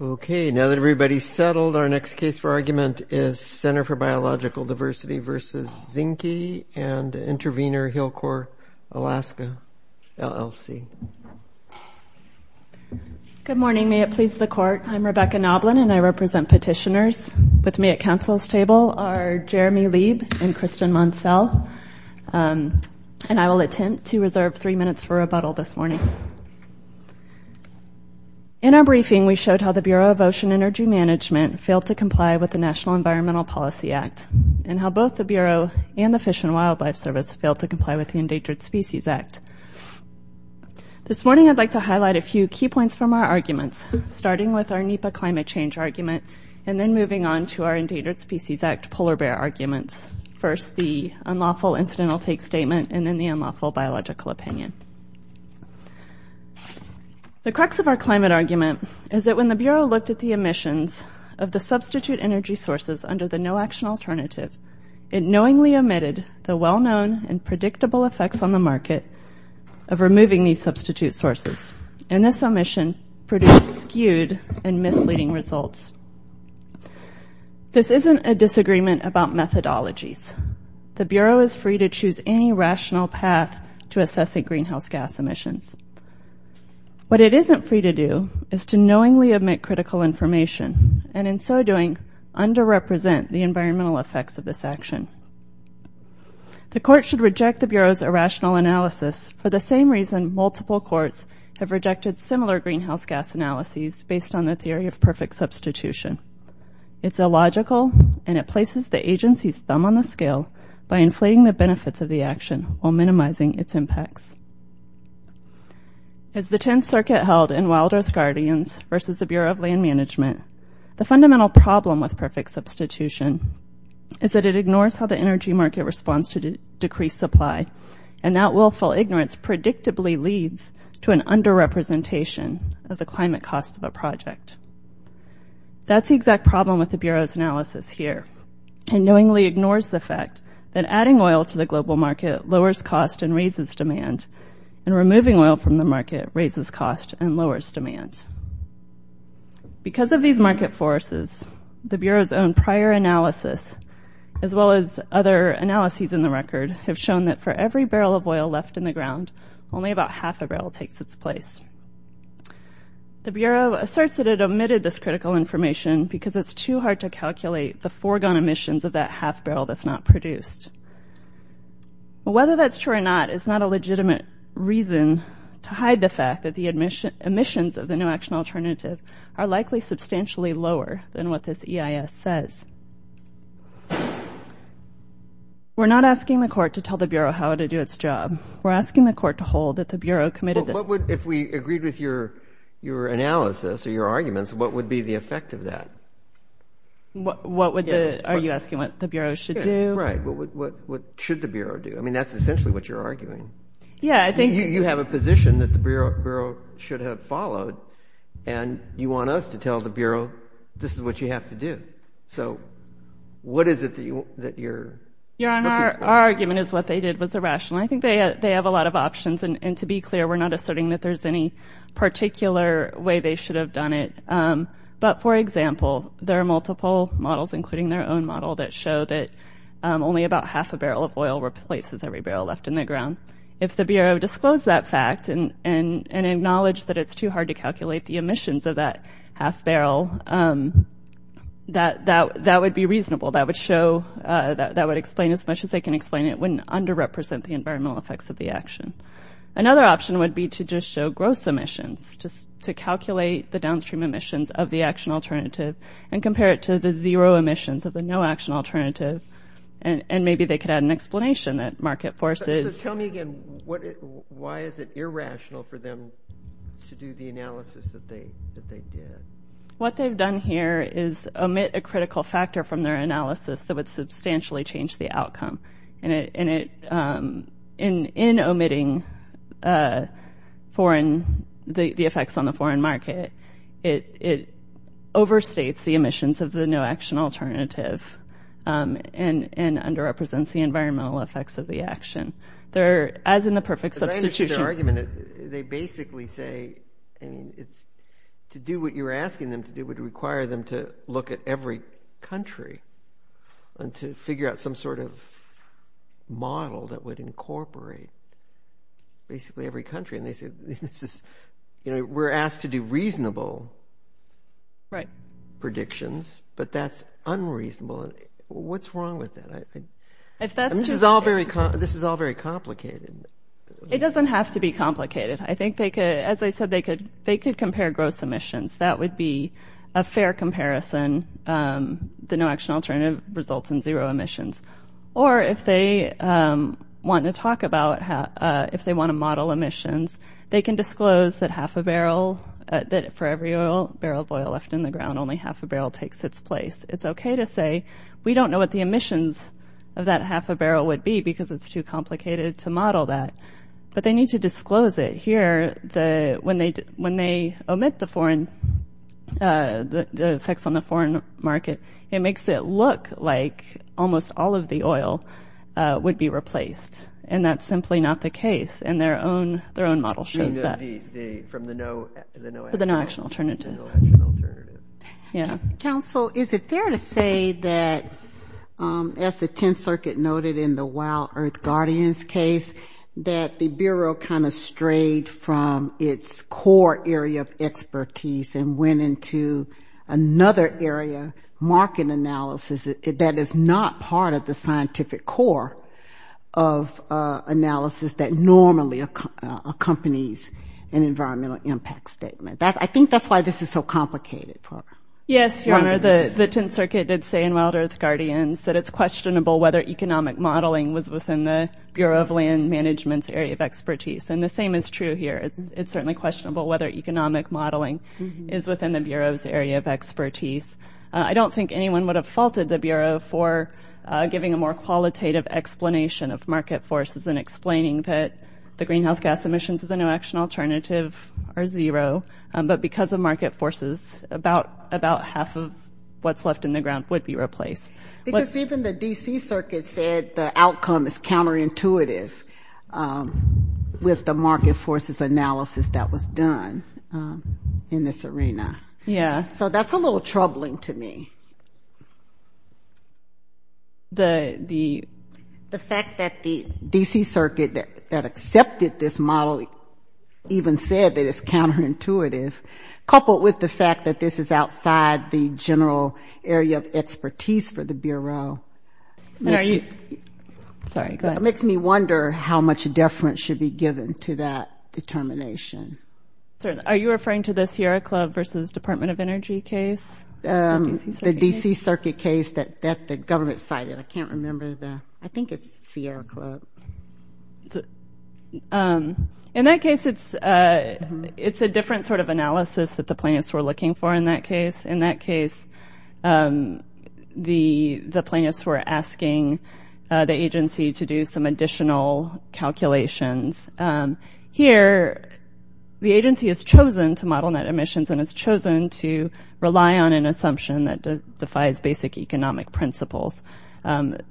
OK, now that everybody's settled, our next case for argument is Ctr. for Biological Diversity v. Zinke and Intervenor Hill Corp., Alaska, LLC. Good morning. May it please the court, I'm Rebecca Noblin, and I represent petitioners. With me at council's table are Jeremy Lieb and Kristen Monselle. And I will attempt to reserve three minutes for rebuttal this morning. In our briefing, we showed how the Bureau of Ocean Energy Management failed to comply with the National Environmental Policy Act, and how both the Bureau and the Fish and Wildlife Service failed to comply with the Endangered Species Act. This morning, I'd like to highlight a few key points from our arguments, starting with our NEPA climate change argument, and then moving on to our Endangered Species Act polar bear arguments. First, the unlawful incidental take statement, and then the unlawful biological opinion. The crux of our climate argument is that when the Bureau looked at the emissions of the substitute energy sources under the no-action alternative, it knowingly omitted the well-known and predictable effects on the market of removing these substitute sources. And this omission produced skewed and misleading results. This isn't a disagreement about methodologies. The Bureau is free to choose any rational path to assessing greenhouse gas emissions. What it isn't free to do is to knowingly omit critical information, and in so doing, underrepresent the environmental effects of this action. The court should reject the Bureau's irrational analysis for the same reason multiple courts have rejected similar greenhouse gas analyses based on the theory of perfect substitution. It's illogical, and it places the agency's thumb on the scale by inflating the benefits of the action while minimizing its impacts. As the Tenth Circuit held in Wild Earth Guardians versus the Bureau of Land Management, the fundamental problem with perfect substitution is that it ignores how the energy market responds to decreased supply, and that willful ignorance predictably leads to an underrepresentation of the climate cost of a project. That's the exact problem with the Bureau's analysis here. It knowingly ignores the fact that adding oil to the global market lowers cost and raises demand, and removing oil from the market raises cost and lowers demand. Because of these market forces, the Bureau's own prior analysis, as well as other analyses in the record, have shown that for every barrel of oil left in the ground, only about half a barrel takes its place. The Bureau asserts that it omitted this critical information because it's too hard to calculate the foregone emissions of that half barrel that's not produced. Whether that's true or not is not a legitimate reason to hide the fact that the emissions of the new action alternative are likely substantially lower than what this EIS says. We're not asking the court to tell the Bureau how to do its job. We're asking the court to hold that the Bureau committed this. If we agreed with your analysis or your arguments, what would be the effect of that? What would the, are you asking what the Bureau should do? Right. What should the Bureau do? I mean, that's essentially what you're arguing. Yeah, I think you have a position that the Bureau should have followed, and you want us to tell the Bureau this is what you have to do. So what is it that you're looking for? Your Honor, our argument is what they did was irrational. I think they have a lot of options. And to be clear, we're not asserting that there's any particular way they should have done it. But for example, there are multiple models, including their own model, that show that only about half a barrel of oil replaces every barrel left in the ground. If the Bureau disclosed that fact and acknowledged that it's too hard to calculate the emissions of that half barrel, that would be reasonable. That would show, that would explain as much as they can explain it wouldn't underrepresent the environmental effects of the action. Another option would be to just show gross emissions, just to calculate the downstream emissions of the action alternative, and compare it to the zero emissions of the no action alternative. And maybe they could add an explanation that market forces. So tell me again, why is it irrational for them to do the analysis that they did? What they've done here is omit a critical factor from their analysis that would substantially change the outcome. And in omitting the effects on the foreign market, it overstates the emissions of the no action alternative and underrepresents the environmental effects of the action. As in the perfect substitution. They basically say, to do what you're asking them to do would require them to look at every country and to figure out some sort of model that would incorporate basically every country. And they say, we're asked to do reasonable predictions, but that's unreasonable. What's wrong with that? This is all very complicated. It doesn't have to be complicated. I think they could, as I said, they could compare gross emissions. That would be a fair comparison. The no action alternative results in zero emissions. Or if they want to talk about, if they want to model emissions, they can disclose that half a barrel, that for every barrel of oil left in the ground, only half a barrel takes its place. It's OK to say, we don't know what the emissions of that half a barrel would be because it's too complicated to model that. But they need to disclose it. Here, when they omit the effects on the foreign market, it makes it look like almost all of the oil would be replaced. And that's simply not the case. And their own model shows that. From the no action alternative. The no action alternative. Counsel, is it fair to say that, as the Tenth Circuit noted in the Wild Earth Guardians case, that the Bureau kind of strayed from its core area of expertise and went into another area, market analysis, that is not part of the scientific core of analysis that normally accompanies an environmental impact statement? I think that's why this is so complicated. Yes, Your Honor, the Tenth Circuit did say in Wild Earth Guardians that it's questionable whether economic modeling was in the Bureau of Land Management's area of expertise. And the same is true here. It's certainly questionable whether economic modeling is within the Bureau's area of expertise. I don't think anyone would have faulted the Bureau for giving a more qualitative explanation of market forces and explaining that the greenhouse gas emissions of the no action alternative are zero. But because of market forces, about half of what's left in the ground would be replaced. Because even the D.C. Circuit said the outcome is counterintuitive with the market forces analysis that was done in this arena. Yeah. So that's a little troubling to me. The fact that the D.C. Circuit that accepted this model even said that it's counterintuitive, coupled with the fact that this is outside the general area of expertise for the Bureau, makes me wonder how much deference should be given to that determination. Are you referring to the Sierra Club versus Department of Energy case? The D.C. Circuit case that the government cited. I can't remember the, I think it's Sierra Club. In that case, it's a different sort of analysis that the plaintiffs were looking for in that case. In that case, the plaintiffs were asking the agency to do some additional calculations. Here, the agency has chosen to model net emissions and has chosen to rely on an assumption that defies basic economic principles.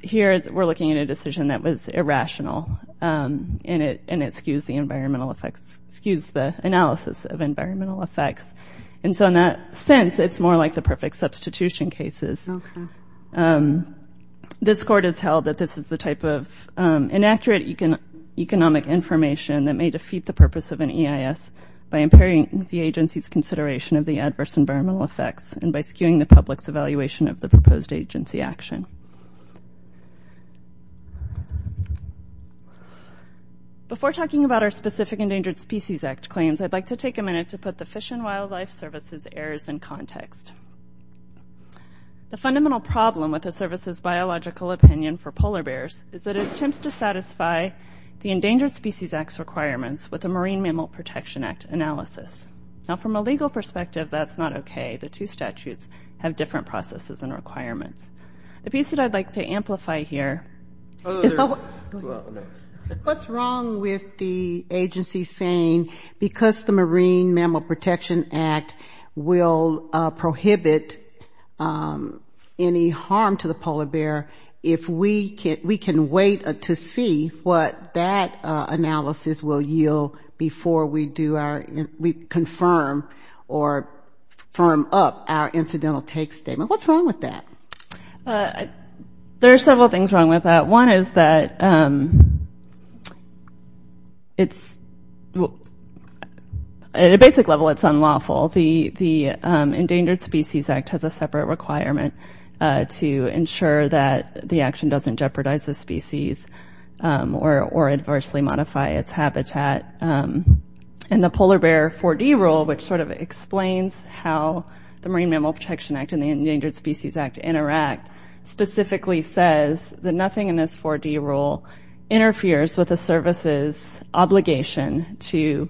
Here, we're looking at a decision that was irrational. And it skews the environmental effects – skews the analysis of environmental effects. And so, in that sense, it's more like the perfect substitution cases. This Court has held that this is the type of inaccurate economic information that may defeat the purpose of an EIS by impairing the agency's consideration of the adverse environmental effects and by skewing the public's evaluation of the proposed agency action. Before talking about our specific Endangered Species Act claims, I'd like to take a minute to put the Fish and Wildlife Service's errors in context. The fundamental problem with the service's biological opinion for polar bears is that it attempts to satisfy the Endangered Species Act's requirements with a Marine Mammal Protection Act analysis. Now, from a legal perspective, that's not okay. The two statutes have different processes and requirements. The piece that I'd like to amplify here is – Oh, there's – well, no. What's wrong with the agency saying, because the Marine Mammal Protection Act will prohibit any harm to the polar bear, if we can wait to see what that analysis will yield before we do our – we confirm or firm up our incidental take statement? What's wrong with that? There are several things wrong with that. One is that it's – at a basic level, it's unlawful. The Endangered Species Act has a separate requirement to ensure that the action doesn't jeopardize the species or adversely modify its habitat. And the Polar Bear 4D Rule, which sort of explains how the Marine Mammal Protection Act and the Endangered Species Act interact, specifically says that nothing in this 4D rule interferes with a service's obligation to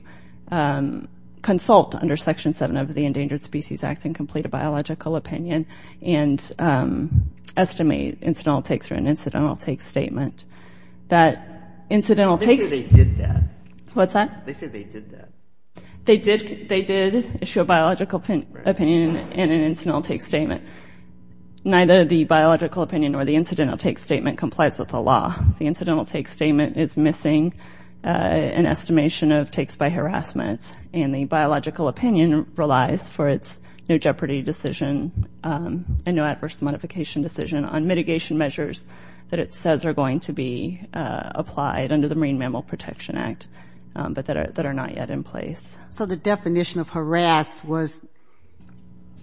consult under Section 7 of the Endangered Species Act and complete a biological opinion and estimate incidental take-through and incidental take statement. That incidental take – They say they did that. What's that? They say they did that. They did issue a biological opinion and an incidental take statement. Neither the biological opinion or the incidental take statement complies with the law. The incidental take statement is missing an estimation of takes by harassment. And the biological opinion relies for its no jeopardy decision and no adverse modification decision on mitigation measures that it says are going to be applied under the Marine Mammal Protection Act but that are not yet in place. So the definition of harass was,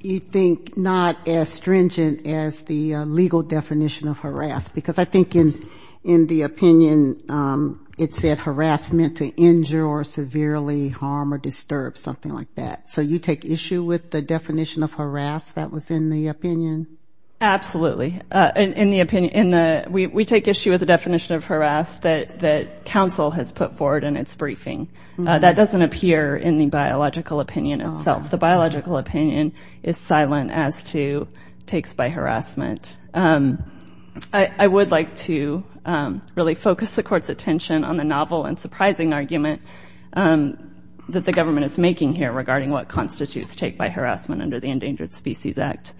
you think, not as stringent as the legal definition of harass because I think in the opinion it said harass meant to injure or severely harm or disturb, something like that. So you take issue with the definition of harass that was in the opinion? Absolutely. In the opinion – we take issue with the definition of harass that council has put forward in its briefing. That doesn't appear in the biological opinion itself. The biological opinion is silent as to takes by harassment. I would like to really focus the court's attention on the novel and surprising argument that the government is making here regarding what constitutes take by harassment under the Endangered Species Act.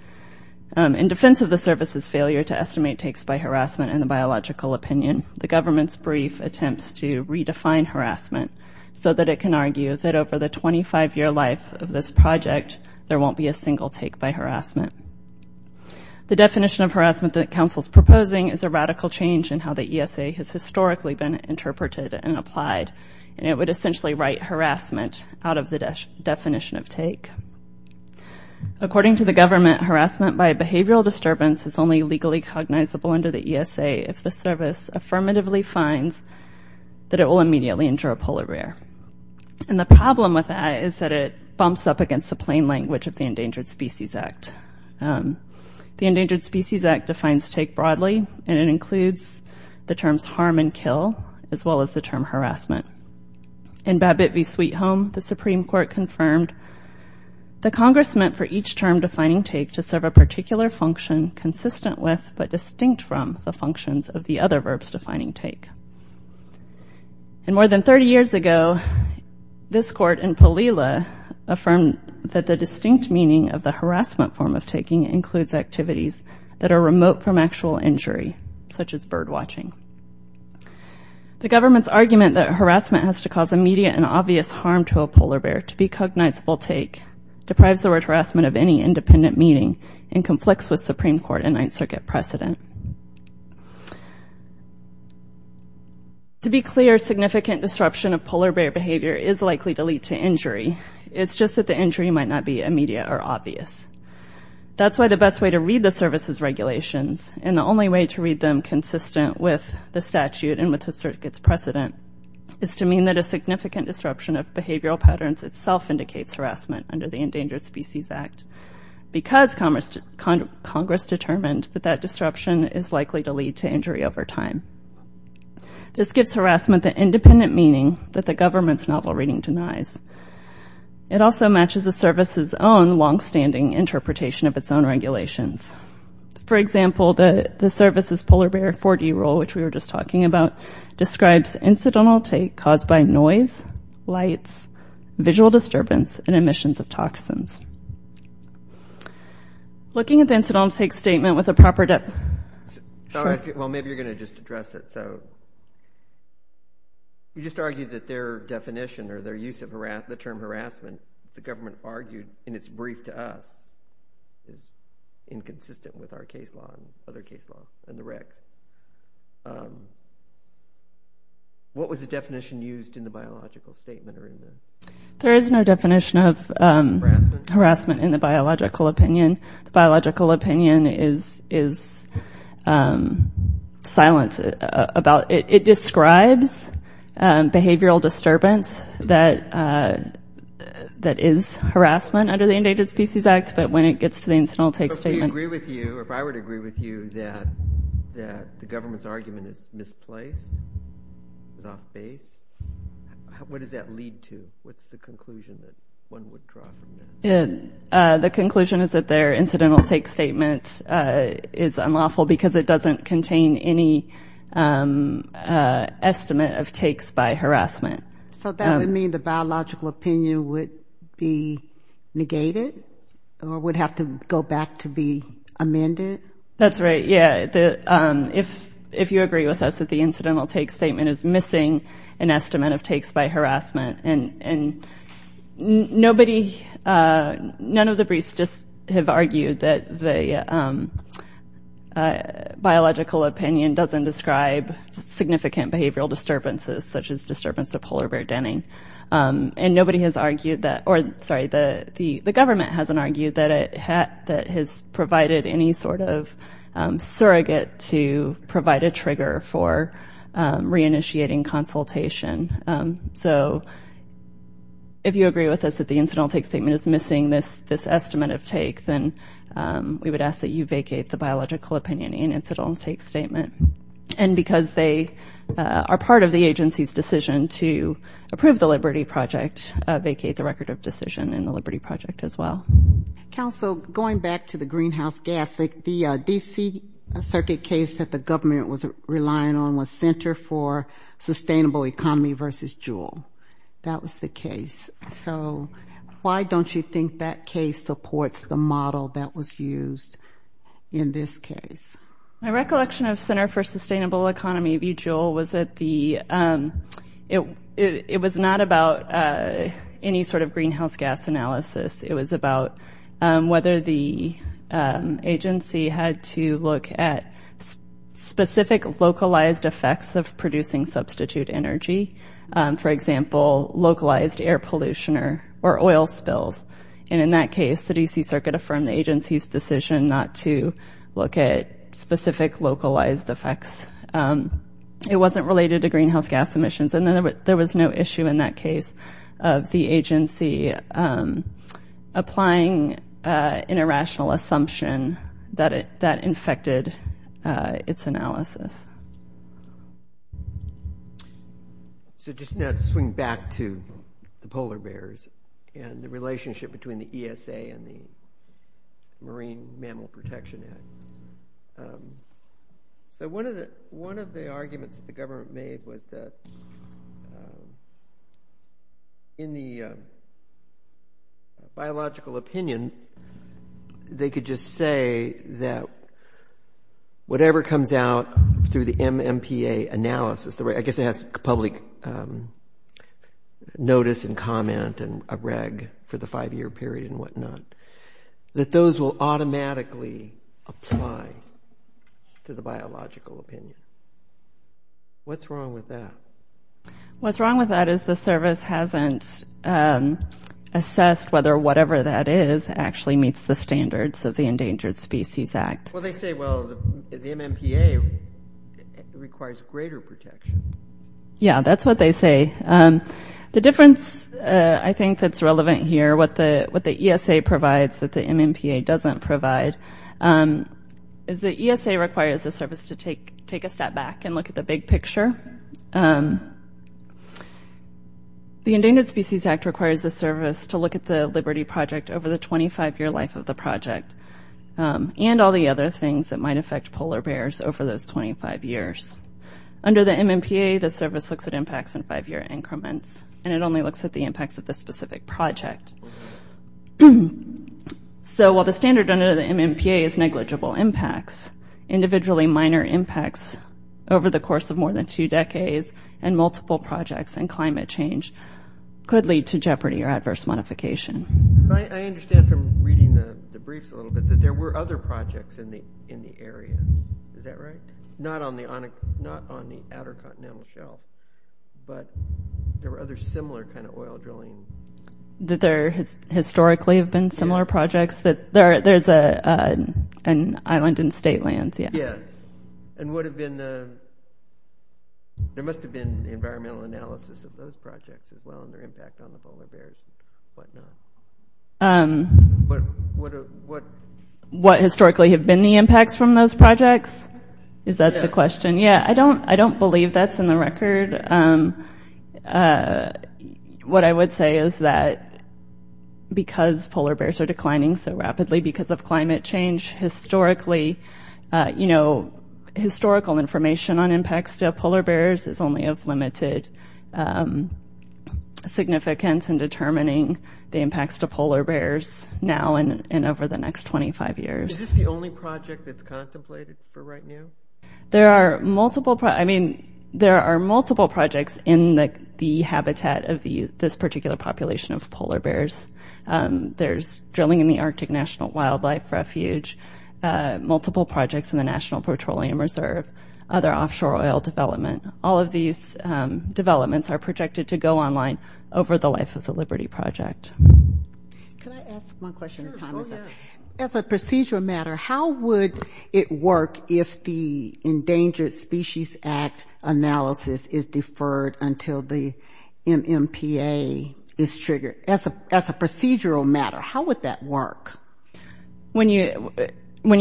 In defense of the service's failure to estimate takes by harassment in the so that it can argue that over the 25-year life of this project, there won't be a single take by harassment. The definition of harassment that council is proposing is a radical change in how the ESA has historically been interpreted and applied, and it would essentially write harassment out of the definition of take. According to the government, harassment by a behavioral disturbance is only legally cognizable under the ESA if the service affirmatively finds that it will immediately endure a polar bear. And the problem with that is that it bumps up against the plain language of the Endangered Species Act. The Endangered Species Act defines take broadly, and it includes the terms harm and kill as well as the term harassment. In Babbitt v. Sweet Home, the Supreme Court confirmed, the Congress meant for each term defining take to serve a particular function consistent with but distinct from the functions of the other verbs defining take. And more than 30 years ago, this court in Palila affirmed that the distinct meaning of the harassment form of taking includes activities that are remote from actual injury, such as bird watching. The government's argument that harassment has to cause immediate and obvious harm to a polar bear to be cognizable take deprives the word harassment of any Supreme Court and Ninth Circuit precedent. To be clear, significant disruption of polar bear behavior is likely to lead to injury. It's just that the injury might not be immediate or obvious. That's why the best way to read the service's regulations, and the only way to read them consistent with the statute and with the circuit's precedent, is to mean that a significant disruption of behavioral patterns itself indicates harassment under the Endangered Species Act. Because Congress determined that that disruption is likely to lead to injury over time. This gives harassment the independent meaning that the government's novel reading denies. It also matches the service's own longstanding interpretation of its own regulations. For example, the service's polar bear 4D rule, which we were just talking about, describes incidental take caused by noise, lights, visual disturbance, and emissions of toxins. Looking at the incidental take statement with a proper definition. Well, maybe you're going to just address it. You just argued that their definition or their use of the term harassment, the government argued in its brief to us, is inconsistent with our case law and other case laws and the RICs. What was the definition used in the biological statement? There is no definition of harassment in the biological opinion. The biological opinion is silent about it. It describes behavioral disturbance that is harassment under the Endangered Species Act, but when it gets to the incidental take statement. But if we agree with you, if I were to agree with you, that the government's argument is misplaced, is off base, what does that lead to? What's the conclusion that one would draw from that? The conclusion is that their incidental take statement is unlawful because it doesn't contain any estimate of takes by harassment. So that would mean the biological opinion would be negated or would have to go back to be amended? That's right, yeah. If you agree with us that the incidental take statement is missing an estimate of takes by harassment, and nobody, none of the briefs just have argued that the biological opinion doesn't describe significant behavioral disturbances such as disturbance to polar bear denning. And nobody has argued that, or sorry, the government hasn't argued that it has provided any sort of surrogate to provide a trigger for reinitiating consultation. So if you agree with us that the incidental take statement is missing this estimate of take, then we would ask that you vacate the biological opinion in incidental take statement. And because they are part of the agency's decision to approve the Liberty Project, vacate the record of decision in the Liberty Project as well. Counsel, going back to the greenhouse gas, the D.C. Circuit case that the government was relying on was Center for Sustainable Economy v. Juul. That was the case. So why don't you think that case supports the model that was used in this case? My recollection of Center for Sustainable Economy v. Juul was that the, it was not about any sort of greenhouse gas analysis. It was about whether the agency had to look at specific localized effects of producing substitute energy. For example, localized air pollution or oil spills. And in that case, the D.C. Circuit affirmed the agency's decision not to look at specific localized effects. It wasn't related to greenhouse gas emissions. And then there was no issue in that case of the agency applying an irrational assumption that that infected its analysis. So just now to swing back to the polar bears and the relationship between the ESA and the Marine Mammal Protection Act. So one of the arguments that the government made was that in the biological opinion, they could just say that whatever comes out through the MMPA analysis, I guess it has public notice and comment and a reg for the five-year period and whatnot, that those will automatically apply to the biological opinion. What's wrong with that? What's wrong with that is the service hasn't assessed whether whatever that is actually meets the standards of the Endangered Species Act. Well, they say, well, the MMPA requires greater protection. Yeah, that's what they say. The difference I think that's relevant here, or what the ESA provides that the MMPA doesn't provide, is the ESA requires the service to take a step back and look at the big picture. The Endangered Species Act requires the service to look at the Liberty Project over the 25-year life of the project and all the other things that might affect polar bears over those 25 years. Under the MMPA, the service looks at impacts in five-year increments. And it only looks at the impacts of the specific project. So while the standard under the MMPA is negligible impacts, individually minor impacts over the course of more than two decades and multiple projects and climate change could lead to jeopardy or adverse modification. I understand from reading the briefs a little bit that there were other projects in the area. Is that right? Not on the outer continental shelf, but there were other similar kind of oil drilling. Did there historically have been similar projects? There's an island in state lands, yeah. Yes. And would have been the – there must have been the environmental analysis of those projects as well and their impact on the polar bears and whatnot. But what… What historically have been the impacts from those projects? Is that the question? Yeah. Yeah, I don't – I don't believe that's in the record. What I would say is that, because polar bears are declining so rapidly because of climate change, historically, you know, historical information on impacts to polar bears is only of limited significance in determining the impacts to polar bears now and over the next 25 years. Is this the only project that's contemplated for right now? There are multiple – I mean, there are multiple projects in the habitat of this particular population of polar bears. There's drilling in the Arctic National Wildlife Refuge. Multiple projects in the National Petroleum Reserve. Other offshore oil development. All of these developments are projected to go online over the life of the Liberty Project. Can I ask one question at a time? Sure. Go ahead. As a procedural matter, how would it work if the Endangered Species Act analysis is deferred until the MMPA is triggered? As a procedural matter, how would that work? When you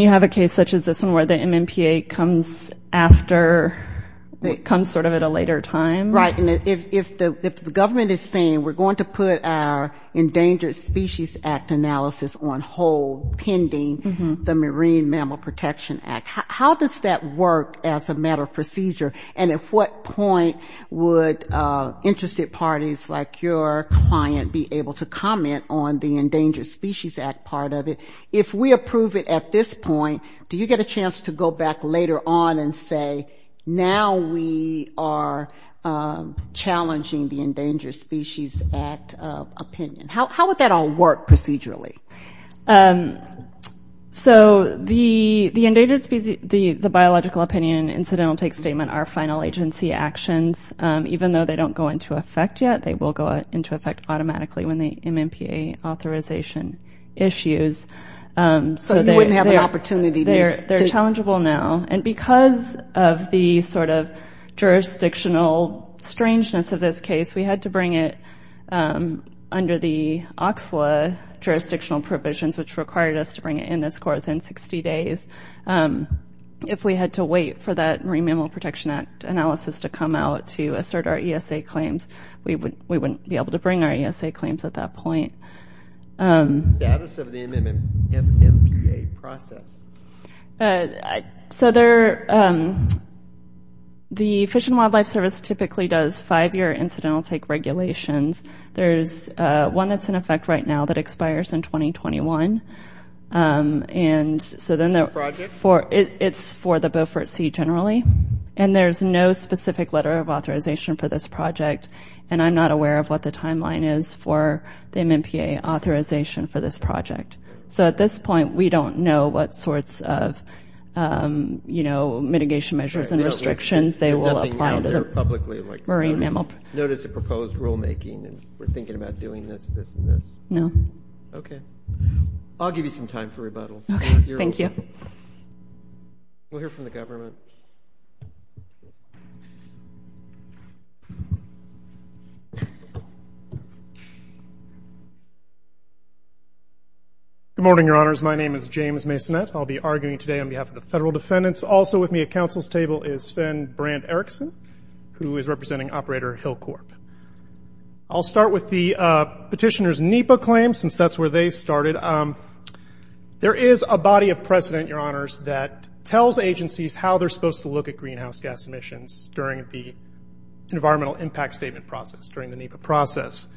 have a case such as this one where the MMPA comes after – comes sort of at a later time? Right. And if the government is saying, we're going to put our Endangered Species Act analysis on hold pending the Marine Mammal Protection Act, how does that work as a matter of procedure? And at what point would interested parties like your client be able to comment on the Endangered Species Act part of it? If we approve it at this point, do you get a chance to go back later on and say, now we are challenging the Endangered Species Act opinion? How would that all work procedurally? So the Endangered Species – the biological opinion and incidental take statement are final agency actions. Even though they don't go into effect yet, they will go into effect automatically when the MMPA authorization issues. So you wouldn't have an opportunity to – They're challengeable now. And because of the sort of jurisdictional strangeness of this case, we had to bring it under the OCSLA jurisdictional provisions, which required us to bring it in this court within 60 days. If we had to wait for that Marine Mammal Protection Act analysis to come out to assert our ESA claims, we wouldn't be able to bring our ESA claims at that point. The status of the MMPA process? So there – the Fish and Wildlife Service typically does five-year incidental take regulations. There's one that's in effect right now that expires in 2021. And so then the – Project? It's for the Beaufort Sea generally. And there's no specific letter of authorization for this project. And I'm not aware of what the timeline is for the MMPA authorization for this project. So at this point, we don't know what sorts of, you know, mitigation measures and restrictions they will apply to the… Notice the proposed rulemaking, and we're thinking about doing this, this, and this. No. Okay. I'll give you some time for rebuttal. Okay. Thank you. We'll hear from the government. Good morning, Your Honors. My name is James Masonette. I'll be arguing today on behalf of the federal defendants. Also with me at council's table is Sven Brand-Eriksson, who is representing Operator Hillcorp. I'll start with the petitioner's NEPA claim, since that's where they started. There is a body of precedent, Your Honors, that tells agencies how they're supposed to look at greenhouse gas emissions during the environmental impact statement process, during the NEPA process.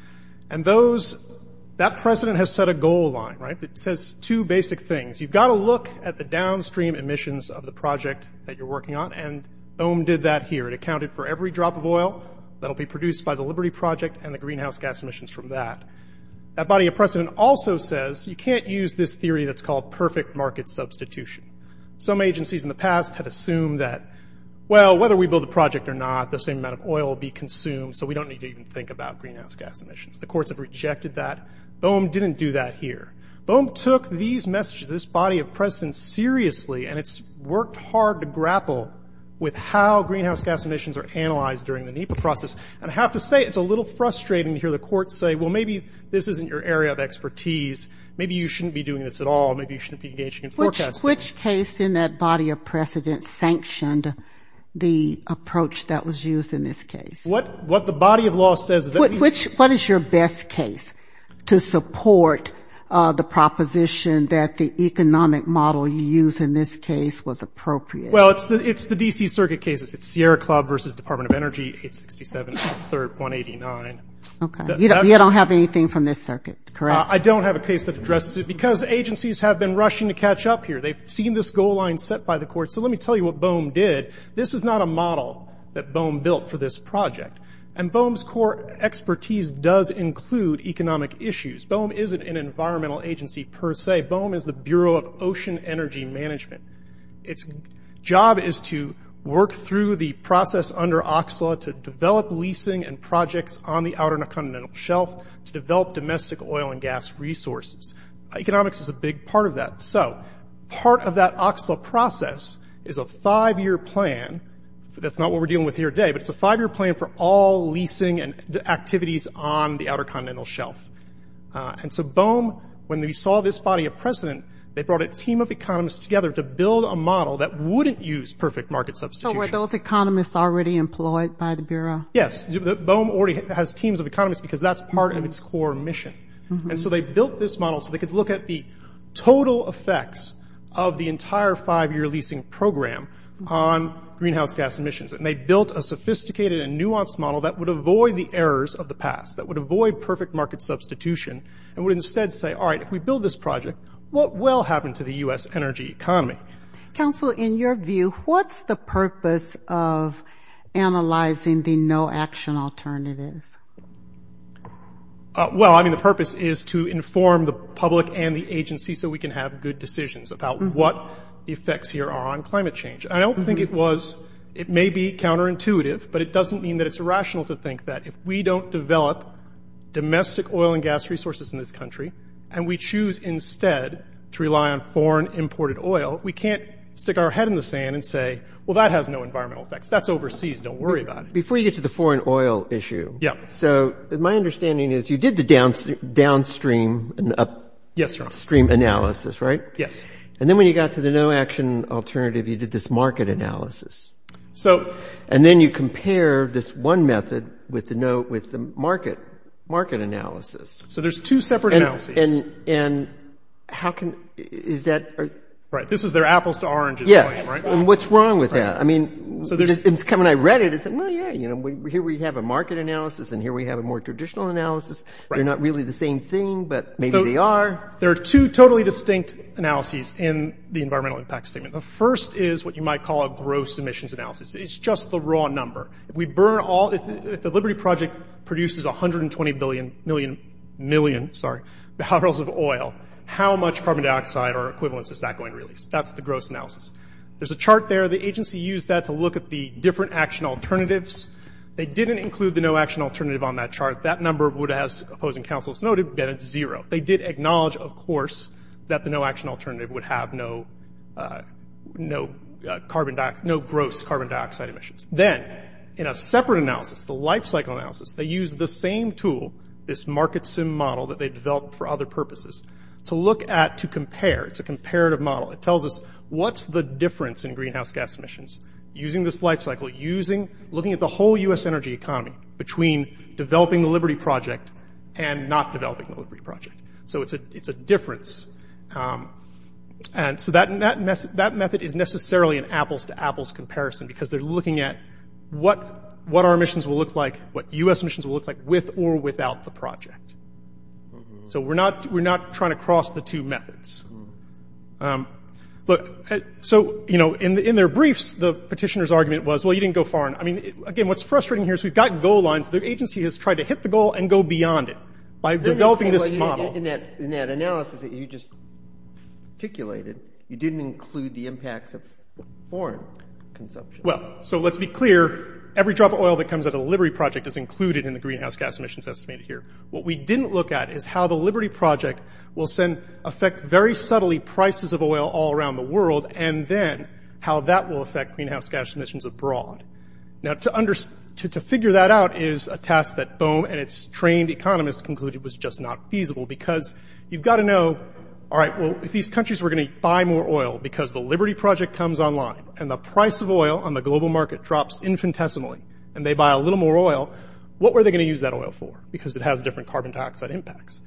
And those – that precedent has set a goal line, right? It says two basic things. You've got to look at the downstream emissions of the project that you're working on, and BOEM did that here. It accounted for every drop of oil that will be produced by the Liberty Project and the greenhouse gas emissions from that. That body of precedent also says you can't use this theory that's called perfect market substitution. Some agencies in the past had assumed that, well, whether we build a project or not, the same amount of oil will be consumed, so we don't need to even think about greenhouse gas emissions. The courts have rejected that. BOEM didn't do that here. BOEM took these messages, this body of precedent, seriously, and it's worked hard to grapple with how greenhouse gas emissions are analyzed during the NEPA process. And I have to say it's a little frustrating to hear the courts say, well, maybe this isn't your area of expertise, maybe you shouldn't be doing this at all, maybe you shouldn't be engaging in forecasting. Which case in that body of precedent sanctioned the approach that was used in this case? What the body of law says is that we – Which – what is your best case to support the proposition that the economic model you used in this case was appropriate? Well, it's the D.C. Circuit cases. It's Sierra Club versus Department of Energy, 867, 83rd, 189. Okay. You don't have anything from this circuit, correct? I don't have a case that addresses it because agencies have been rushing to catch up here. They've seen this goal line set by the courts. So let me tell you what BOEM did. This is not a model that BOEM built for this project. And BOEM's core expertise does include economic issues. BOEM isn't an environmental agency per se. BOEM is the Bureau of Ocean Energy Management. Its job is to work through the process under OCSLA to develop leasing and projects on the outer continental shelf to develop domestic oil and gas resources. Economics is a big part of that. So part of that OCSLA process is a five-year plan. That's not what we're dealing with here today, but it's a five-year plan for all leasing and activities on the outer continental shelf. And so BOEM, when they saw this body of precedent, they brought a team of economists together to build a model that wouldn't use perfect market substitution. So were those economists already employed by the Bureau? Yes. BOEM already has teams of economists because that's part of its core mission. And so they built this model so they could look at the total effects of the entire five-year leasing program on greenhouse gas emissions. And they built a sophisticated and nuanced model that would avoid the errors of the past, that would avoid perfect market substitution, and would instead say, all right, if we build this project, what will happen to the U.S. energy economy? Counsel, in your view, what's the purpose of analyzing the no-action alternative? Well, I mean, the purpose is to inform the public and the agency so we can have good decisions about what the effects here are on climate change. I don't think it was – it may be counterintuitive, but it doesn't mean that it's irrational to think that if we don't develop domestic oil and gas resources in this country and we choose instead to rely on foreign imported oil, we can't stick our head in the sand and say, well, that has no environmental effects. That's overseas. Don't worry about it. Before you get to the foreign oil issue, so my understanding is you did the downstream and upstream analysis, right? Yes. And then when you got to the no-action alternative, you did this market analysis. So – And then you compare this one method with the market analysis. So there's two separate analyses. And how can – is that – Right. This is their apples to oranges claim, right? Yes. And what's wrong with that? I mean, when I read it, I said, well, yeah, you know, here we have a market analysis and here we have a more traditional analysis. They're not really the same thing, but maybe they are. There are two totally distinct analyses in the environmental impact statement. The first is what you might call a gross emissions analysis. It's just the raw number. If we burn all – if the Liberty Project produces 120 million – million, sorry – barrels of oil, how much carbon dioxide or equivalents is that going to release? That's the gross analysis. There's a chart there. The agency used that to look at the different action alternatives. They didn't include the no-action alternative on that chart. That number would, as opposing counsels noted, have been at zero. They did acknowledge, of course, that the no-action alternative would have no – no carbon – no gross carbon dioxide emissions. Then in a separate analysis, the lifecycle analysis, they used the same tool, this market sim model that they developed for other purposes, to look at – to compare. It's a comparative model. It tells us what's the difference in greenhouse gas emissions using this lifecycle, using – looking at the whole U.S. energy economy between developing the Liberty Project and not developing the Liberty Project. So it's a difference. And so that method is necessarily an apples-to-apples comparison because they're looking at what our emissions will look like, what U.S. emissions will look like with or without the project. So we're not – we're not trying to cross the two methods. Look, so, you know, in their briefs, the petitioner's argument was, well, you didn't go far enough. I mean, again, what's frustrating here is we've got goal lines. The agency has tried to hit the goal and go beyond it by developing this model. In that analysis that you just articulated, you didn't include the impacts of foreign consumption. Well, so let's be clear, every drop of oil that comes out of the Liberty Project is included in the greenhouse gas emissions estimated here. What we didn't look at is how the Liberty Project will send – affect very subtly prices of oil all around the world and then how that will affect greenhouse gas emissions abroad. Now, to figure that out is a task that BOEM and its trained economists concluded was just not feasible because you've got to know, all right, well, if these countries were going to buy more oil because the Liberty Project comes online and the price of oil on the global market drops infinitesimally and they buy a little more oil, what were they going to use that oil for? Because it has different carbon dioxide impacts.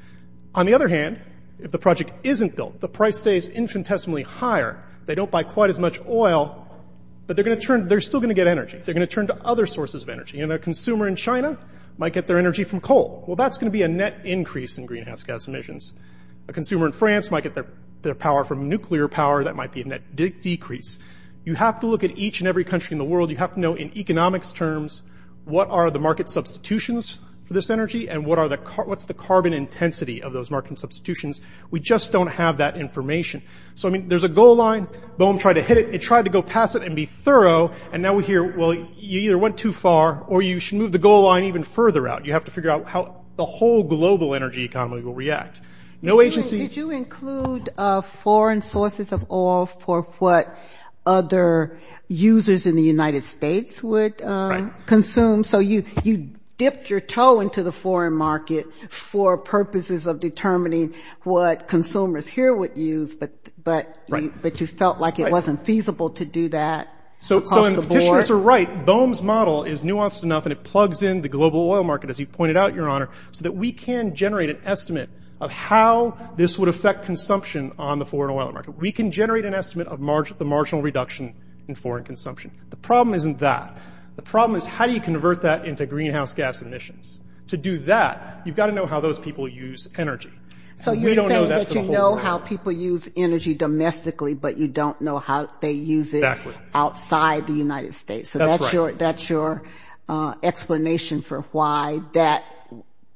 On the other hand, if the project isn't built, the price stays infinitesimally higher, they don't buy quite as much oil, but they're still going to get energy. They're going to turn to other sources of energy. And a consumer in China might get their energy from coal. Well, that's going to be a net increase in greenhouse gas emissions. A consumer in France might get their power from nuclear power. That might be a net decrease. You have to look at each and every country in the world. You have to know in economics terms what are the market substitutions for this energy and what's the carbon intensity of those market substitutions. We just don't have that information. So, I mean, there's a goal line. Boom, tried to hit it. It tried to go past it and be thorough, and now we hear, well, you either went too far or you should move the goal line even further out. You have to figure out how the whole global energy economy will react. No agency... Did you include foreign sources of oil for what other users in the United States would consume? Right. So you dipped your toe into the foreign market for purposes of determining what consumers here would use, but you felt like it wasn't feasible to do that across the board. So the petitioners are right. BOEM's model is nuanced enough, and it plugs in the global oil market, as you pointed out, Your Honor, so that we can generate an estimate of how this would affect consumption on the foreign oil market. We can generate an estimate of the marginal reduction in foreign consumption. The problem isn't that. The problem is how do you convert that into greenhouse gas emissions? To do that, you've got to know how those people use energy. So you're saying that you know how people use energy domestically, but you don't know how they use it outside the United States. That's right. So that's your explanation for why that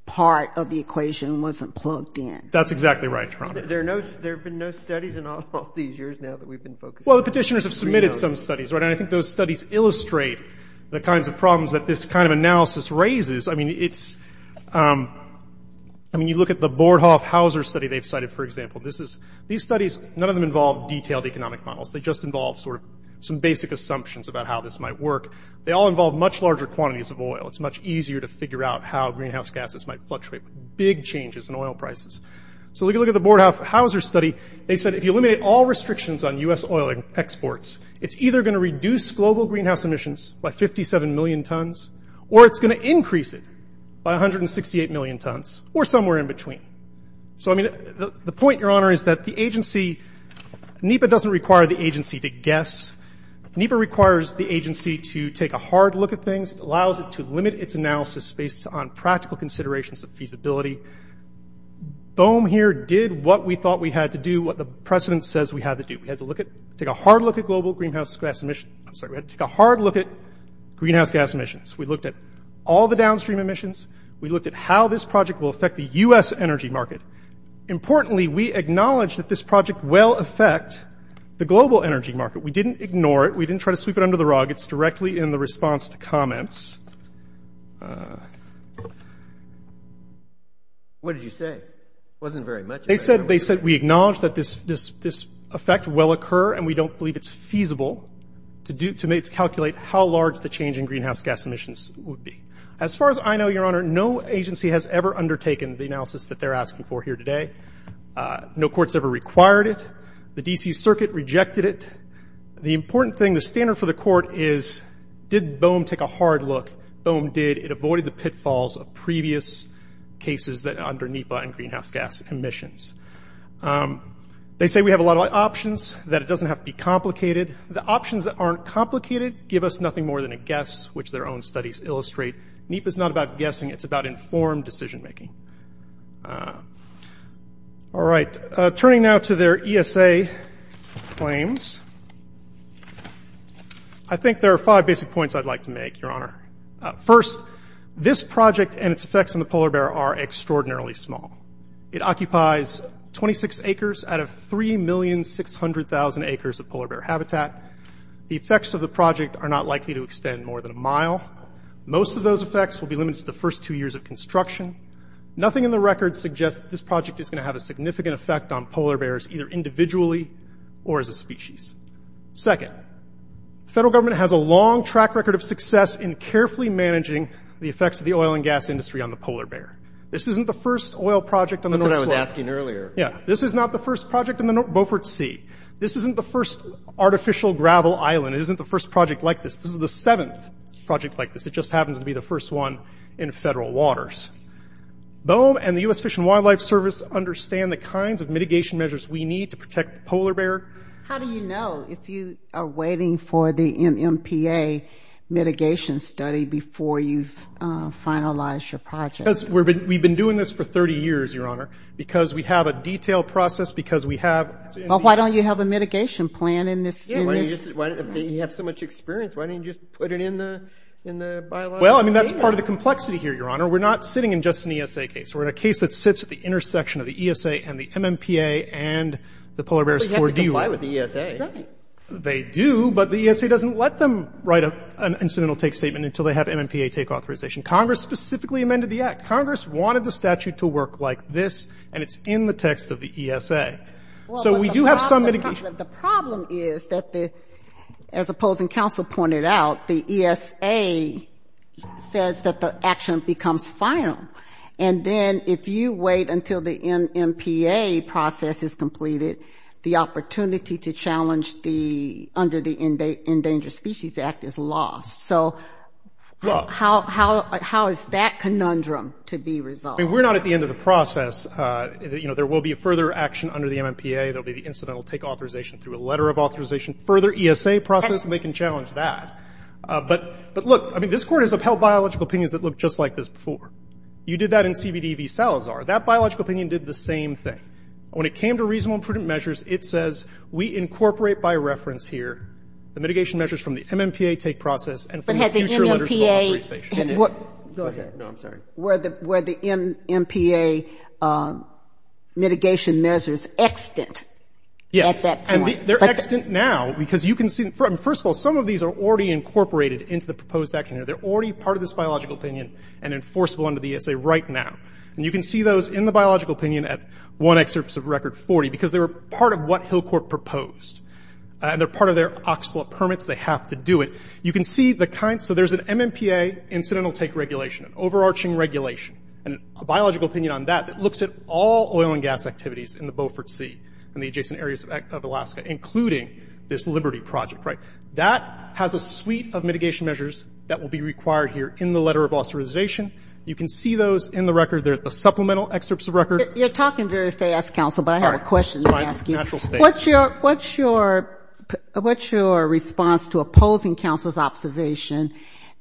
part of the equation wasn't plugged in. That's exactly right, Your Honor. There have been no studies in all these years now that we've been focusing on greenhouse. Well, the petitioners have submitted some studies, right, and I think those studies illustrate the kinds of problems that this kind of analysis raises. I mean, you look at the Bordhoff-Hauser study they've cited, for example. These studies, none of them involve detailed economic models. They just involve sort of some basic assumptions about how this might work. They all involve much larger quantities of oil. It's much easier to figure out how greenhouse gases might fluctuate. Big changes in oil prices. So if you look at the Bordhoff-Hauser study, they said if you eliminate all restrictions on U.S. oil exports, it's either going to reduce global greenhouse emissions by 57 million tons, or it's going to increase it by 168 million tons, or somewhere in between. So, I mean, the point, Your Honor, is that the agency, NEPA doesn't require the agency to guess. NEPA requires the agency to take a hard look at things. It allows it to limit its analysis based on practical considerations of feasibility. BOEM here did what we thought we had to do, what the precedent says we had to do. We had to take a hard look at greenhouse gas emissions. We looked at all the downstream emissions. We looked at how this project will affect the U.S. energy market. Importantly, we acknowledged that this project will affect the global energy market. We didn't ignore it. We didn't try to sweep it under the rug. It's directly in the response to comments. What did you say? It wasn't very much. They said we acknowledge that this effect will occur, and we don't believe it's feasible to calculate how large the change in greenhouse gas emissions would be. As far as I know, Your Honor, no agency has ever undertaken the analysis that they're asking for here today. No court's ever required it. The D.C. Circuit rejected it. The important thing, the standard for the court is did BOEM take a hard look? BOEM did. It avoided the pitfalls of previous cases under NEPA and greenhouse gas emissions. They say we have a lot of options, that it doesn't have to be complicated. The options that aren't complicated give us nothing more than a guess, which their own studies illustrate. NEPA's not about guessing. It's about informed decision-making. All right. Turning now to their ESA claims, I think there are five basic points I'd like to make, Your Honor. First, this project and its effects on the polar bear are extraordinarily small. It occupies 26 acres out of 3,600,000 acres of polar bear habitat. The effects of the project are not likely to extend more than a mile. Most of those effects will be limited to the first two years of construction. Nothing in the record suggests that this project is going to have a significant effect on polar bears, either individually or as a species. Second, the federal government has a long track record of success in carefully managing the effects of the oil and gas industry on the polar bear. This isn't the first oil project on the North Pole. That's what I was asking earlier. Yeah. This is not the first project in the Beaufort Sea. This isn't the first artificial gravel island. It isn't the first project like this. This is the seventh project like this. It just happens to be the first one in federal waters. BOEM and the U.S. Fish and Wildlife Service understand the kinds of mitigation measures we need to protect the polar bear. How do you know if you are waiting for the NMPA mitigation study before you've finalized your project? Because we've been doing this for 30 years, Your Honor, because we have a detailed process, because we have – Well, why don't you have a mitigation plan in this – You have so much experience. Why don't you just put it in the – in the bylaws? Well, I mean, that's part of the complexity here, Your Honor. We're not sitting in just an ESA case. We're in a case that sits at the intersection of the ESA and the NMPA and the polar bear's core deal. But you have to comply with the ESA. Right. They do, but the ESA doesn't let them write an incidental take statement until they have NMPA take authorization. Congress specifically amended the Act. Congress wanted the statute to work like this, and it's in the text of the ESA. So we do have some mitigation. But the problem is that the – as opposing counsel pointed out, the ESA says that the action becomes final, and then if you wait until the NMPA process is completed, the opportunity to challenge the – under the Endangered Species Act is lost. So how is that conundrum to be resolved? I mean, we're not at the end of the process. You know, there will be a further action under the NMPA. There will be the incidental take authorization through a letter of authorization, further ESA process, and they can challenge that. But look, I mean, this Court has upheld biological opinions that look just like this before. You did that in CBD v. Salazar. That biological opinion did the same thing. When it came to reasonable and prudent measures, it says we incorporate by reference here the mitigation measures from the NMPA take process and from the future letters of authorization. But had the NMPA – Go ahead. No, I'm sorry. Were the NMPA mitigation measures extant at that point? Yes. And they're extant now because you can see – first of all, some of these are already incorporated into the proposed action here. They're already part of this biological opinion and enforceable under the ESA right now. And you can see those in the biological opinion at one excerpt of Record 40 because they were part of what Hillcourt proposed. And they're part of their OCSLA permits. They have to do it. You can see the kind – so there's an NMPA incidental take regulation, an overarching regulation, and a biological opinion on that that looks at all oil and gas activities in the Beaufort Sea and the adjacent areas of Alaska, including this Liberty project, right? That has a suite of mitigation measures that will be required here in the letter of authorization. You can see those in the Record. They're the supplemental excerpts of Record. You're talking very fast, counsel, but I have a question to ask you. What's your response to opposing counsel's observation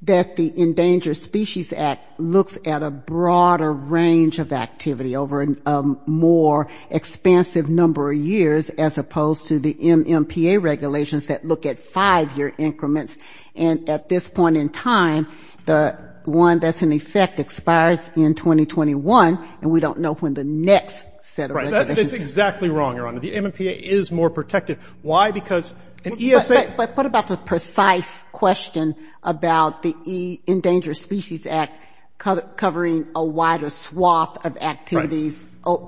that the Endangered Species Act looks at a broader range of activity over a more expansive number of years as opposed to the NMPA regulations that look at five-year increments? And at this point in time, the one that's in effect expires in 2021, and we don't know when the next set of regulations – Right. That's exactly wrong, Your Honor. The NMPA is more protective. Why? Because an ESA – But what about the precise question about the Endangered Species Act covering a wider swath of activities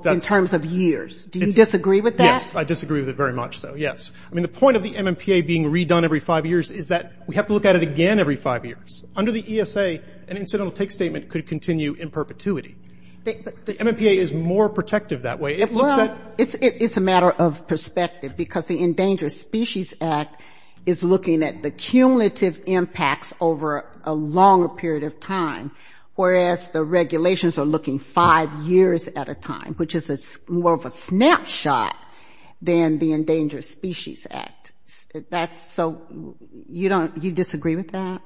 in terms of years? Do you disagree with that? Yes. I disagree with it very much so, yes. I mean, the point of the NMPA being redone every five years is that we have to look at it again every five years. Under the ESA, an incidental take statement could continue in perpetuity. The NMPA is more protective that way. It looks at – Well, it's a matter of perspective because the Endangered Species Act is looking at the cumulative impacts over a longer period of time, whereas the regulations are looking five years at a time, which is more of a snapshot than the Endangered Species Act. That's so – you don't – you disagree with that?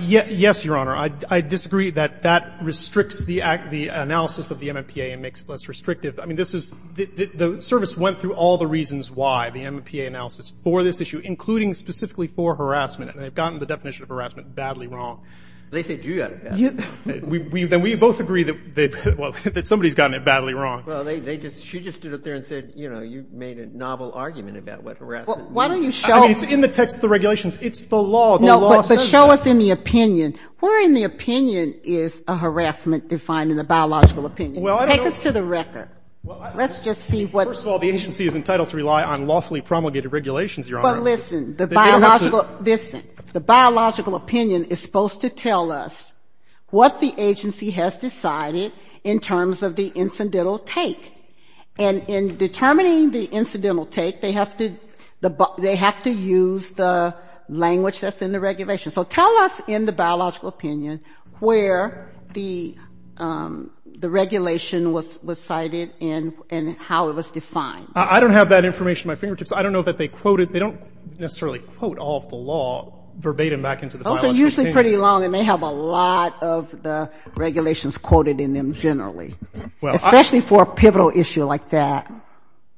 Yes, Your Honor. I disagree that that restricts the analysis of the NMPA and makes it less restrictive. I mean, this is – the service went through all the reasons why, the NMPA analysis, for this issue, including specifically for harassment, and they've gotten the definition of harassment badly wrong. They said you got it badly wrong. Then we both agree that somebody's gotten it badly wrong. Well, they just – she just stood up there and said, you know, you made a novel argument about what harassment means. Why don't you show – I mean, it's in the text of the regulations. It's the law. The law says it. No, but show us in the opinion. Where in the opinion is a harassment defined in the biological opinion? Well, I don't know – Take us to the record. Let's just see what – First of all, the agency is entitled to rely on lawfully promulgated regulations, Your Honor. But listen, the biological – listen. The biological opinion is supposed to tell us what the agency has decided in terms of the incidental take. And in determining the incidental take, they have to – they have to use the language that's in the regulation. So tell us in the biological opinion where the regulation was cited and how it was defined. I don't have that information at my fingertips. I don't know that they quoted – they don't necessarily quote all of the law verbatim back into the biological opinion. Those are usually pretty long, and they have a lot of the regulations quoted in them generally, especially for a pivotal issue like that.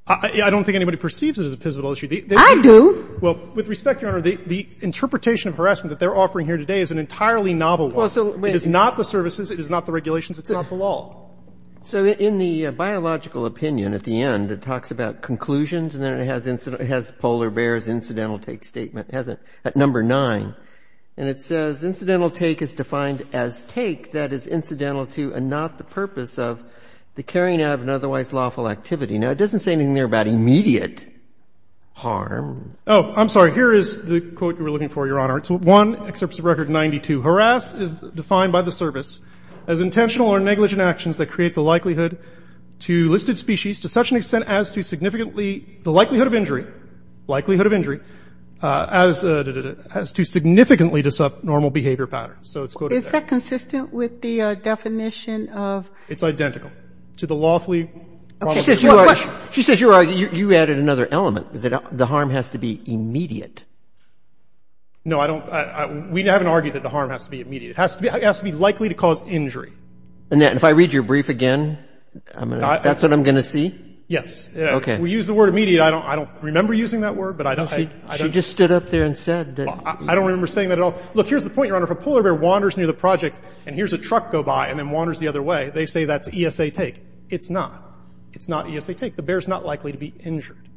I don't think anybody perceives it as a pivotal issue. I do. Well, with respect, Your Honor, the interpretation of harassment that they're offering here today is an entirely novel one. It is not the services. It is not the regulations. It's not the law. So in the biological opinion at the end, it talks about conclusions, and then it has polar bears, incidental take statement. It has it at number 9. And it says incidental take is defined as take that is incidental to and not the purpose of the carrying out of an otherwise lawful activity. Now, it doesn't say anything there about immediate harm. Oh, I'm sorry. Here is the quote you were looking for, Your Honor. It's 1 Excerpts of Record 92. Harass is defined by the service as intentional or negligent actions that create the likelihood to listed species to such an extent as to significantly – the likelihood of injury – likelihood of injury as to significantly disrupt normal behavior patterns. So it's quoted there. Is that consistent with the definition of – It's identical to the lawfully – Okay. One question. She says you added another element, that the harm has to be immediate. No, I don't – we haven't argued that the harm has to be immediate. It has to be likely to cause injury. And if I read your brief again, that's what I'm going to see? Yes. Okay. We use the word immediate. I don't remember using that word, but I don't – She just stood up there and said that – I don't remember saying that at all. Look, here's the point, Your Honor. If a polar bear wanders near the project and hears a truck go by and then wanders the other way, they say that's ESA take. It's not. It's not ESA take. The bear is not likely to be injured.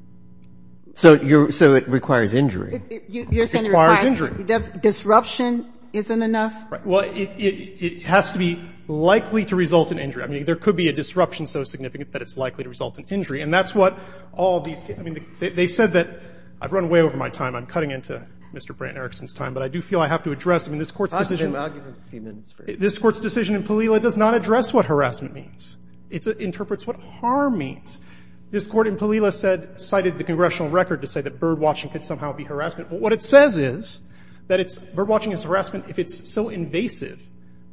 So you're – so it requires injury. You're saying it requires – It requires injury. Disruption isn't enough? Right. Well, it has to be likely to result in injury. I mean, there could be a disruption so significant that it's likely to result in injury. And that's what all these – I mean, they said that – I've run way over my time. I'm cutting into Mr. Brant and Erickson's time. But I do feel I have to address – I mean, this Court's decision – Possibly an argument, Mr. Stevens. This Court's decision in Palila does not address what harassment means. It interprets what harm means. This Court in Palila said – cited the congressional record to say that birdwatching could somehow be harassment. What it says is that it's – birdwatching is harassment if it's so invasive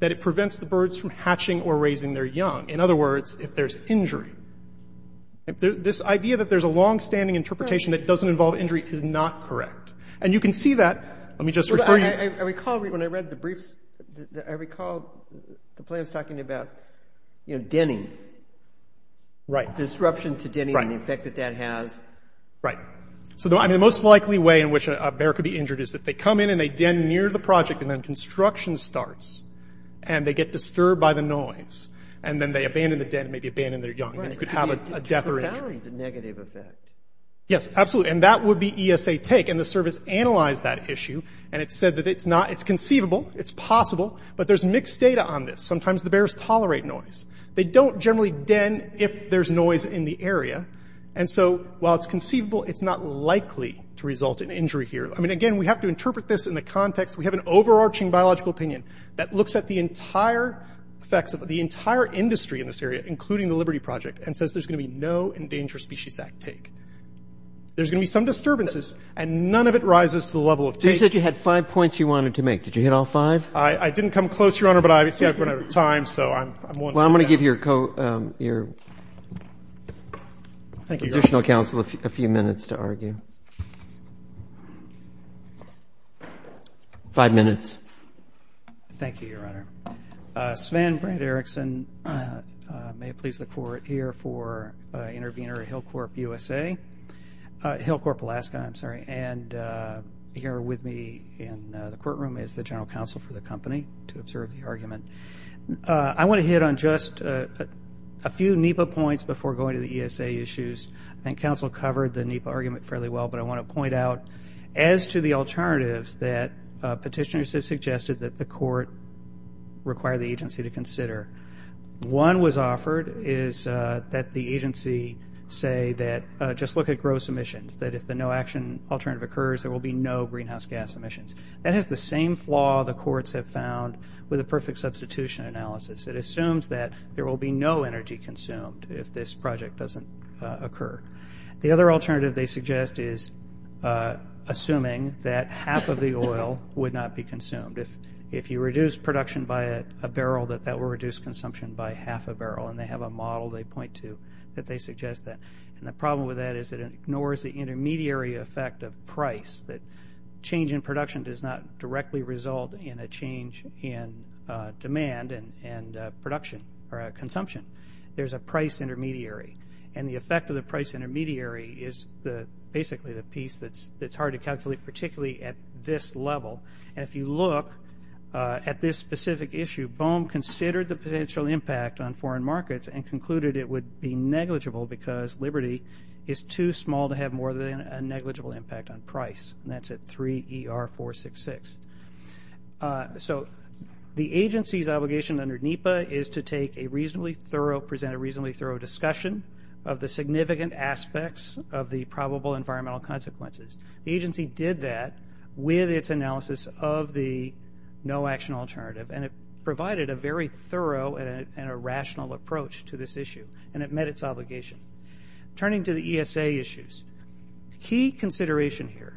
that it prevents the birds from hatching or raising their young. In other words, if there's injury. This idea that there's a longstanding interpretation that it doesn't involve injury is not correct. And you can see that. Let me just refer you – I recall the plaintiff's talking about, you know, denning. Right. Disruption to denning and the effect that that has. Right. So, I mean, the most likely way in which a bear could be injured is that they come in and they den near the project, and then construction starts. And they get disturbed by the noise. And then they abandon the den and maybe abandon their young. Right. And you could have a death or injury. It could vary the negative effect. Yes, absolutely. And that would be ESA take. And the service analyzed that issue. And it said that it's not – it's conceivable. It's possible. But there's mixed data on this. Sometimes the bears tolerate noise. They don't generally den if there's noise in the area. And so, while it's conceivable, it's not likely to result in injury here. I mean, again, we have to interpret this in the context. We have an overarching biological opinion that looks at the entire effects of – the entire industry in this area, including the Liberty Project, and says there's going to be no Endangered Species Act take. There's going to be some disturbances. And none of it rises to the level of take. You said you had five points you wanted to make. Did you hit all five? I didn't come close, Your Honor, but obviously I've run out of time, so I'm willing to do that. Well, I'm going to give your additional counsel a few minutes to argue. Five minutes. Thank you, Your Honor. Sven Brand-Erikson, may it please the Court, here for intervener at Hillcorp USA – Hillcorp, Alaska, I'm sorry. And here with me in the courtroom is the general counsel for the company to observe the argument. I want to hit on just a few NEPA points before going to the ESA issues. I think counsel covered the NEPA argument fairly well, but I want to point out as to the alternatives that petitioners have suggested that the Court require the agency to consider. One was offered is that the agency say that just look at gross emissions, that if the no-action alternative occurs, there will be no greenhouse gas emissions. That has the same flaw the courts have found with a perfect substitution analysis. It assumes that there will be no energy consumed if this project doesn't occur. The other alternative they suggest is assuming that half of the oil would not be consumed. If you reduce production by a barrel, that that will reduce consumption by half a barrel, and they have a model they point to that they suggest that. And the problem with that is it ignores the intermediary effect of price, that change in production does not directly result in a change in demand and production or consumption. There's a price intermediary. And the effect of the price intermediary is basically the piece that's hard to calculate, particularly at this level. And if you look at this specific issue, Bohm considered the potential impact on foreign markets and concluded it would be negligible because liberty is too small to have more than a negligible impact on price. And that's at 3ER466. So the agency's obligation under NEPA is to take a reasonably thorough, present a reasonably thorough discussion of the significant aspects of the probable environmental consequences. The agency did that with its analysis of the no-action alternative, and it provided a very thorough and a rational approach to this issue, and it met its obligation. Turning to the ESA issues, key consideration here,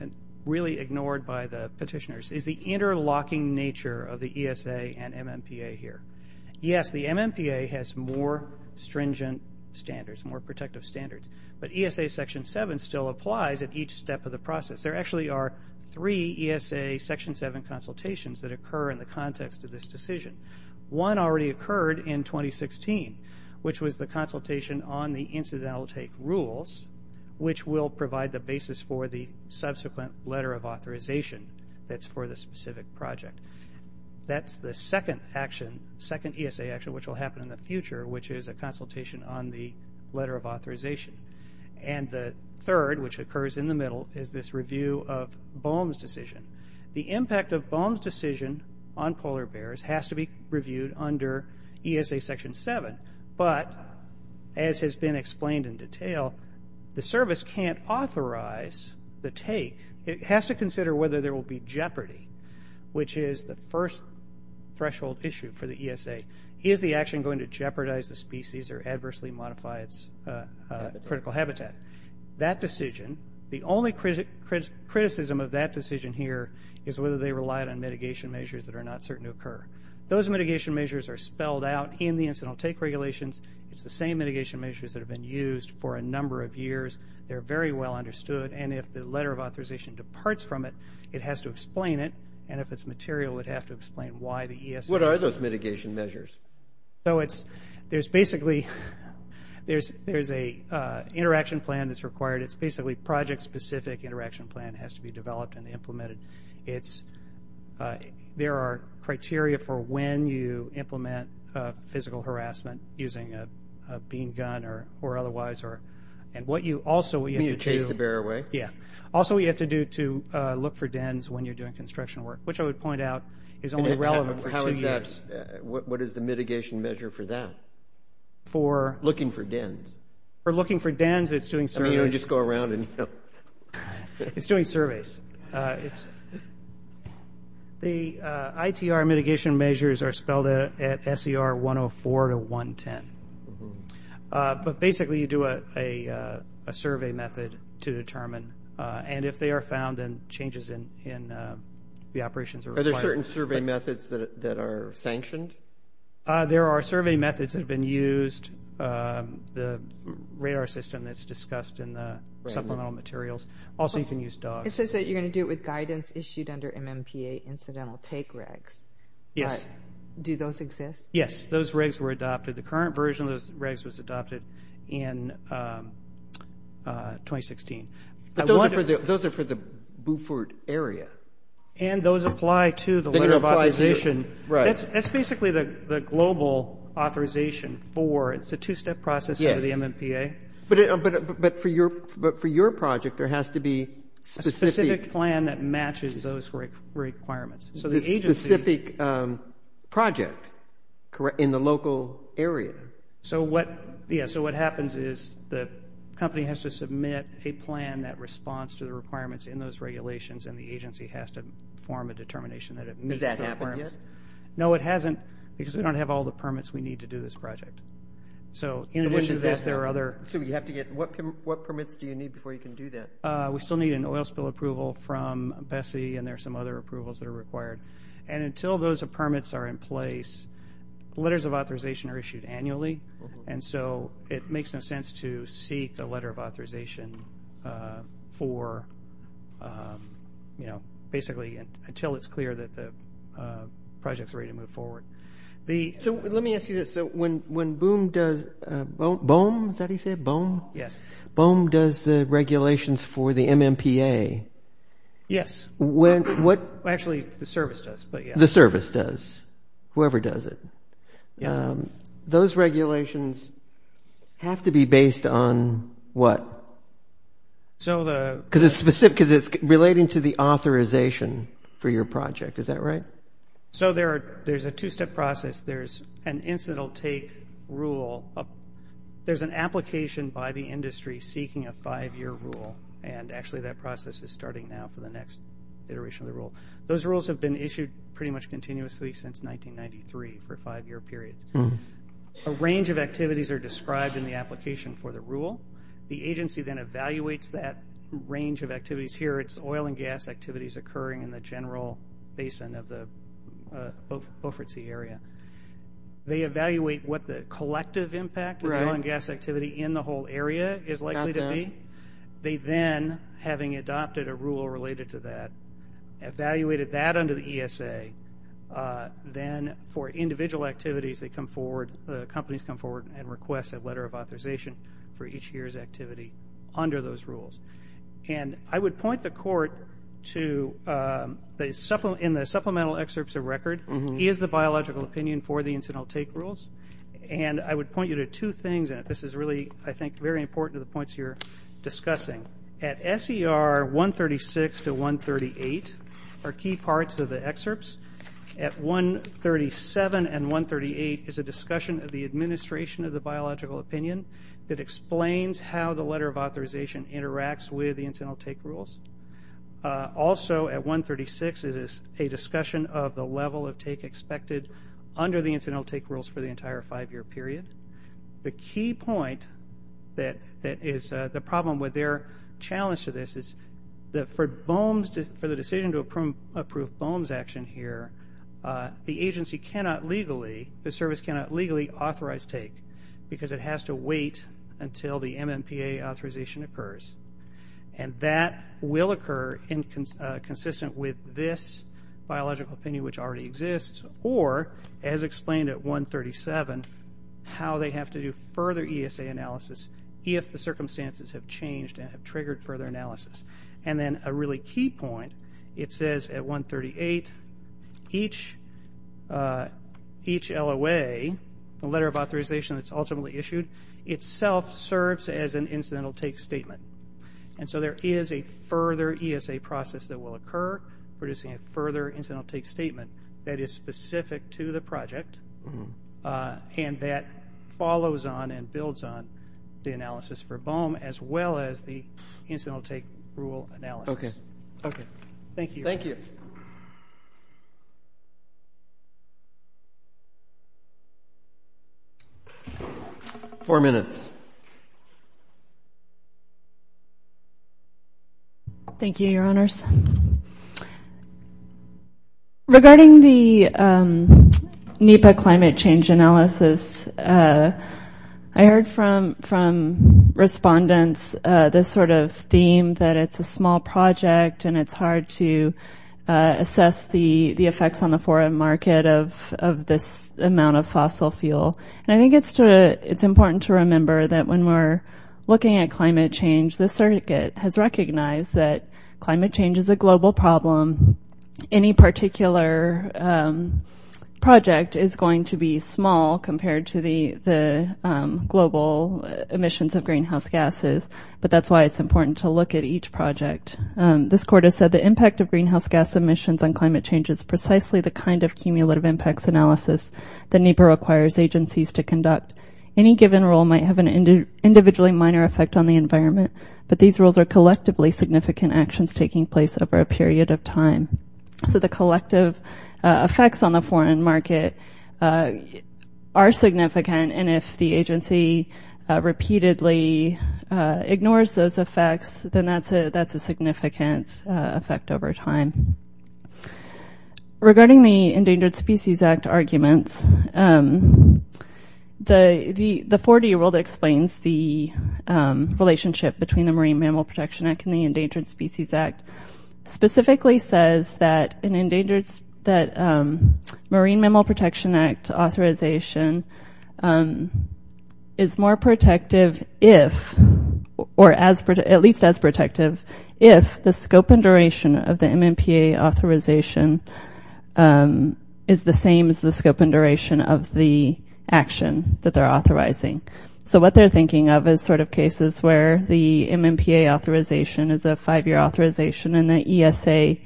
and really ignored by the petitioners, is the interlocking nature of the ESA and MMPA here. Yes, the MMPA has more stringent standards, more protective standards, but ESA Section 7 still applies at each step of the process. There actually are three ESA Section 7 consultations that occur in the context of this decision. One already occurred in 2016, which was the consultation on the incidental take rules, which will provide the basis for the subsequent letter of authorization that's for the specific project. That's the second action, second ESA action, which will happen in the future, and the third, which occurs in the middle, is this review of Boehm's decision. The impact of Boehm's decision on polar bears has to be reviewed under ESA Section 7, but as has been explained in detail, the service can't authorize the take. It has to consider whether there will be jeopardy, which is the first threshold issue for the ESA. Is the action going to jeopardize the species or adversely modify its critical habitat? That decision, the only criticism of that decision here, is whether they relied on mitigation measures that are not certain to occur. Those mitigation measures are spelled out in the incidental take regulations. It's the same mitigation measures that have been used for a number of years. They're very well understood, and if the letter of authorization departs from it, it has to explain it, and if it's material, it would have to explain why the ESA— What are those mitigation measures? So it's—there's basically—there's a interaction plan that's required. It's basically project-specific interaction plan has to be developed and implemented. It's—there are criteria for when you implement physical harassment using a bean gun or otherwise, and what you also— You mean you chase the bear away? Yeah. Also, what you have to do to look for dens when you're doing construction work, which I would point out is only relevant for two years. What is the mitigation measure for that? For— Looking for dens. For looking for dens, it's doing surveys. I mean, you don't just go around and— It's doing surveys. The ITR mitigation measures are spelled out at SER 104 to 110, but basically you do a survey method to determine, and if they are found, then changes in the operations are required. Are there certain survey methods that are sanctioned? There are survey methods that have been used, the radar system that's discussed in the supplemental materials. Also, you can use dogs. It says that you're going to do it with guidance issued under MMPA incidental take regs. Yes. Do those exist? Yes. Those regs were adopted. The current version of those regs was adopted in 2016. Those are for the Beaufort area. And those apply to the letter of authorization. That's basically the global authorization for—it's a two-step process under the MMPA. But for your project, there has to be specific— A specific plan that matches those requirements. A specific project in the local area. So what happens is the company has to submit a plan that responds to the requirements in those regulations, and the agency has to form a determination that it meets those requirements. Has that happened yet? No, it hasn't because we don't have all the permits we need to do this project. So in addition to this, there are other— What permits do you need before you can do that? We still need an oil spill approval from BSEE, and there are some other approvals that are required. And until those permits are in place, letters of authorization are issued annually. And so it makes no sense to seek the letter of authorization for, you know, basically until it's clear that the project's ready to move forward. So let me ask you this. So when BOEM does—is that how you say it? BOEM? Yes. BOEM does the regulations for the MMPA. Yes. Actually, the service does. The service does, whoever does it. Those regulations have to be based on what? Because it's relating to the authorization for your project. Is that right? So there's a two-step process. There's an incidental take rule. There's an application by the industry seeking a five-year rule, and actually that process is starting now for the next iteration of the rule. Those rules have been issued pretty much continuously since 1993 for five-year periods. A range of activities are described in the application for the rule. The agency then evaluates that range of activities. Here it's oil and gas activities occurring in the general basin of the Beaufort Sea area. They evaluate what the collective impact of oil and gas activity in the whole area is likely to be. They then, having adopted a rule related to that, evaluated that under the ESA. Then for individual activities, they come forward, the companies come forward and request a letter of authorization for each year's activity under those rules. I would point the court to, in the supplemental excerpts of record, is the biological opinion for the incidental take rules? I would point you to two things, and this is really, I think, very important to the points you're discussing. At SER 136 to 138 are key parts of the excerpts. At 137 and 138 is a discussion of the administration of the biological opinion that explains how the letter of authorization interacts with the incidental take rules. Also, at 136, it is a discussion of the level of take expected under the incidental take rules for the entire five-year period. The key point that is the problem with their challenge to this is that for BOEMs, for the decision to approve BOEMs action here, the agency cannot legally, the service cannot legally authorize take because it has to wait until the MMPA authorization occurs, and that will occur consistent with this biological opinion, which already exists, or as explained at 137, how they have to do further ESA analysis if the circumstances have changed and have triggered further analysis. And then a really key point, it says at 138, each LOA, the letter of authorization that's ultimately issued, itself serves as an incidental take statement. And so there is a further ESA process that will occur producing a further incidental take statement that is specific to the project and that follows on and builds on the analysis for BOEM, as well as the incidental take rule analysis. Okay. Okay. Thank you. Thank you. Four minutes. Thank you, Your Honors. Regarding the NEPA climate change analysis, I heard from respondents this sort of theme that it's a small project and it's hard to assess the effects on the foreign market of this amount of fossil fuel. And I think it's important to remember that when we're looking at climate change, the circuit has recognized that climate change is a global problem. Any particular project is going to be small compared to the global emissions of greenhouse gases, but that's why it's important to look at each project. This court has said the impact of greenhouse gas emissions on climate change is precisely the kind of cumulative impacts analysis that NEPA requires agencies to conduct. Any given rule might have an individually minor effect on the environment, but these rules are collectively significant actions taking place over a period of time. So the collective effects on the foreign market are significant, and if the agency repeatedly ignores those effects, then that's a significant effect over time. Regarding the Endangered Species Act arguments, the 40-year rule that explains the relationship between the Marine Mammal Protection Act and the Endangered Species Act specifically says that an endangered – that Marine Mammal Protection Act authorization is more protective if – or at least as protective if the scope and duration of the MMPA authorization is the same as the scope and duration of the action that they're authorizing. So what they're thinking of is sort of cases where the MMPA authorization is a five-year authorization and the ESA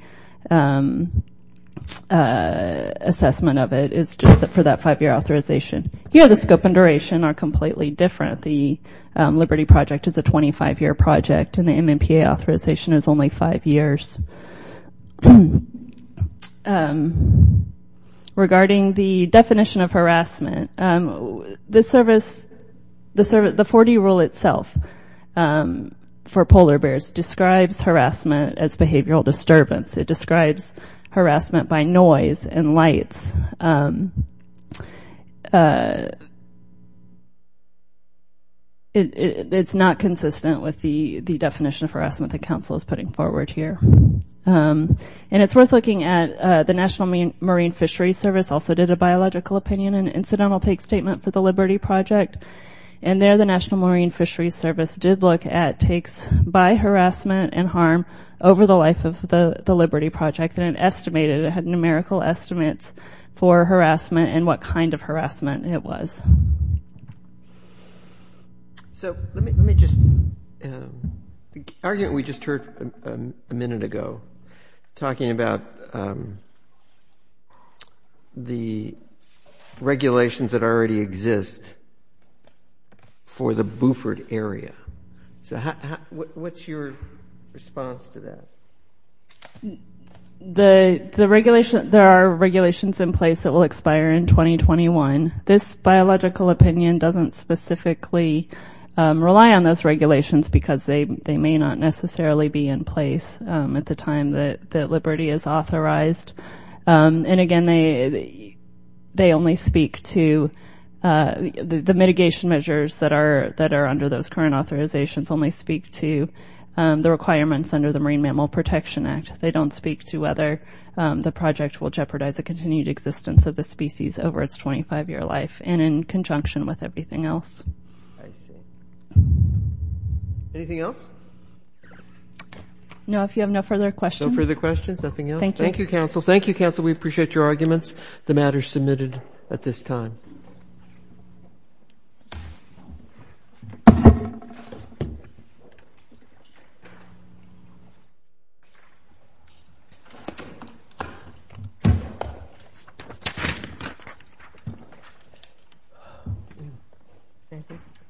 assessment of it is just for that five-year authorization. Here the scope and duration are completely different. The Liberty Project is a 25-year project, and the MMPA authorization is only five years. Regarding the definition of harassment, the service – the 40-year rule itself for polar bears describes harassment as behavioral disturbance. It describes harassment by noise and lights. It's not consistent with the definition of harassment the council is putting forward here. And it's worth looking at – the National Marine Fisheries Service also did a biological opinion and incidental take statement for the Liberty Project. And there, the National Marine Fisheries Service did look at takes by harassment and harm over the life of the Liberty Project, and it estimated – it had numerical estimates for harassment and what kind of harassment it was. So let me just – the argument we just heard a minute ago, talking about the regulations that already exist for the Buford area. So what's your response to that? The regulation – there are regulations in place that will expire in 2021. This biological opinion doesn't specifically rely on those regulations because they may not necessarily be in place at the time that Liberty is authorized. And again, they only speak to – the mitigation measures that are under those current authorizations only speak to the requirements under the Marine Mammal Protection Act. They don't speak to whether the project will jeopardize the continued existence of the species over its 25-year life and in conjunction with everything else. I see. Anything else? No, if you have no further questions. No further questions? Nothing else? Thank you. Thank you, council. Thank you, council. We appreciate your arguments. The matter is submitted at this time.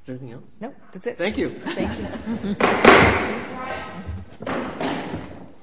Anything else? No, that's it. Thank you. Thank you. Thank you.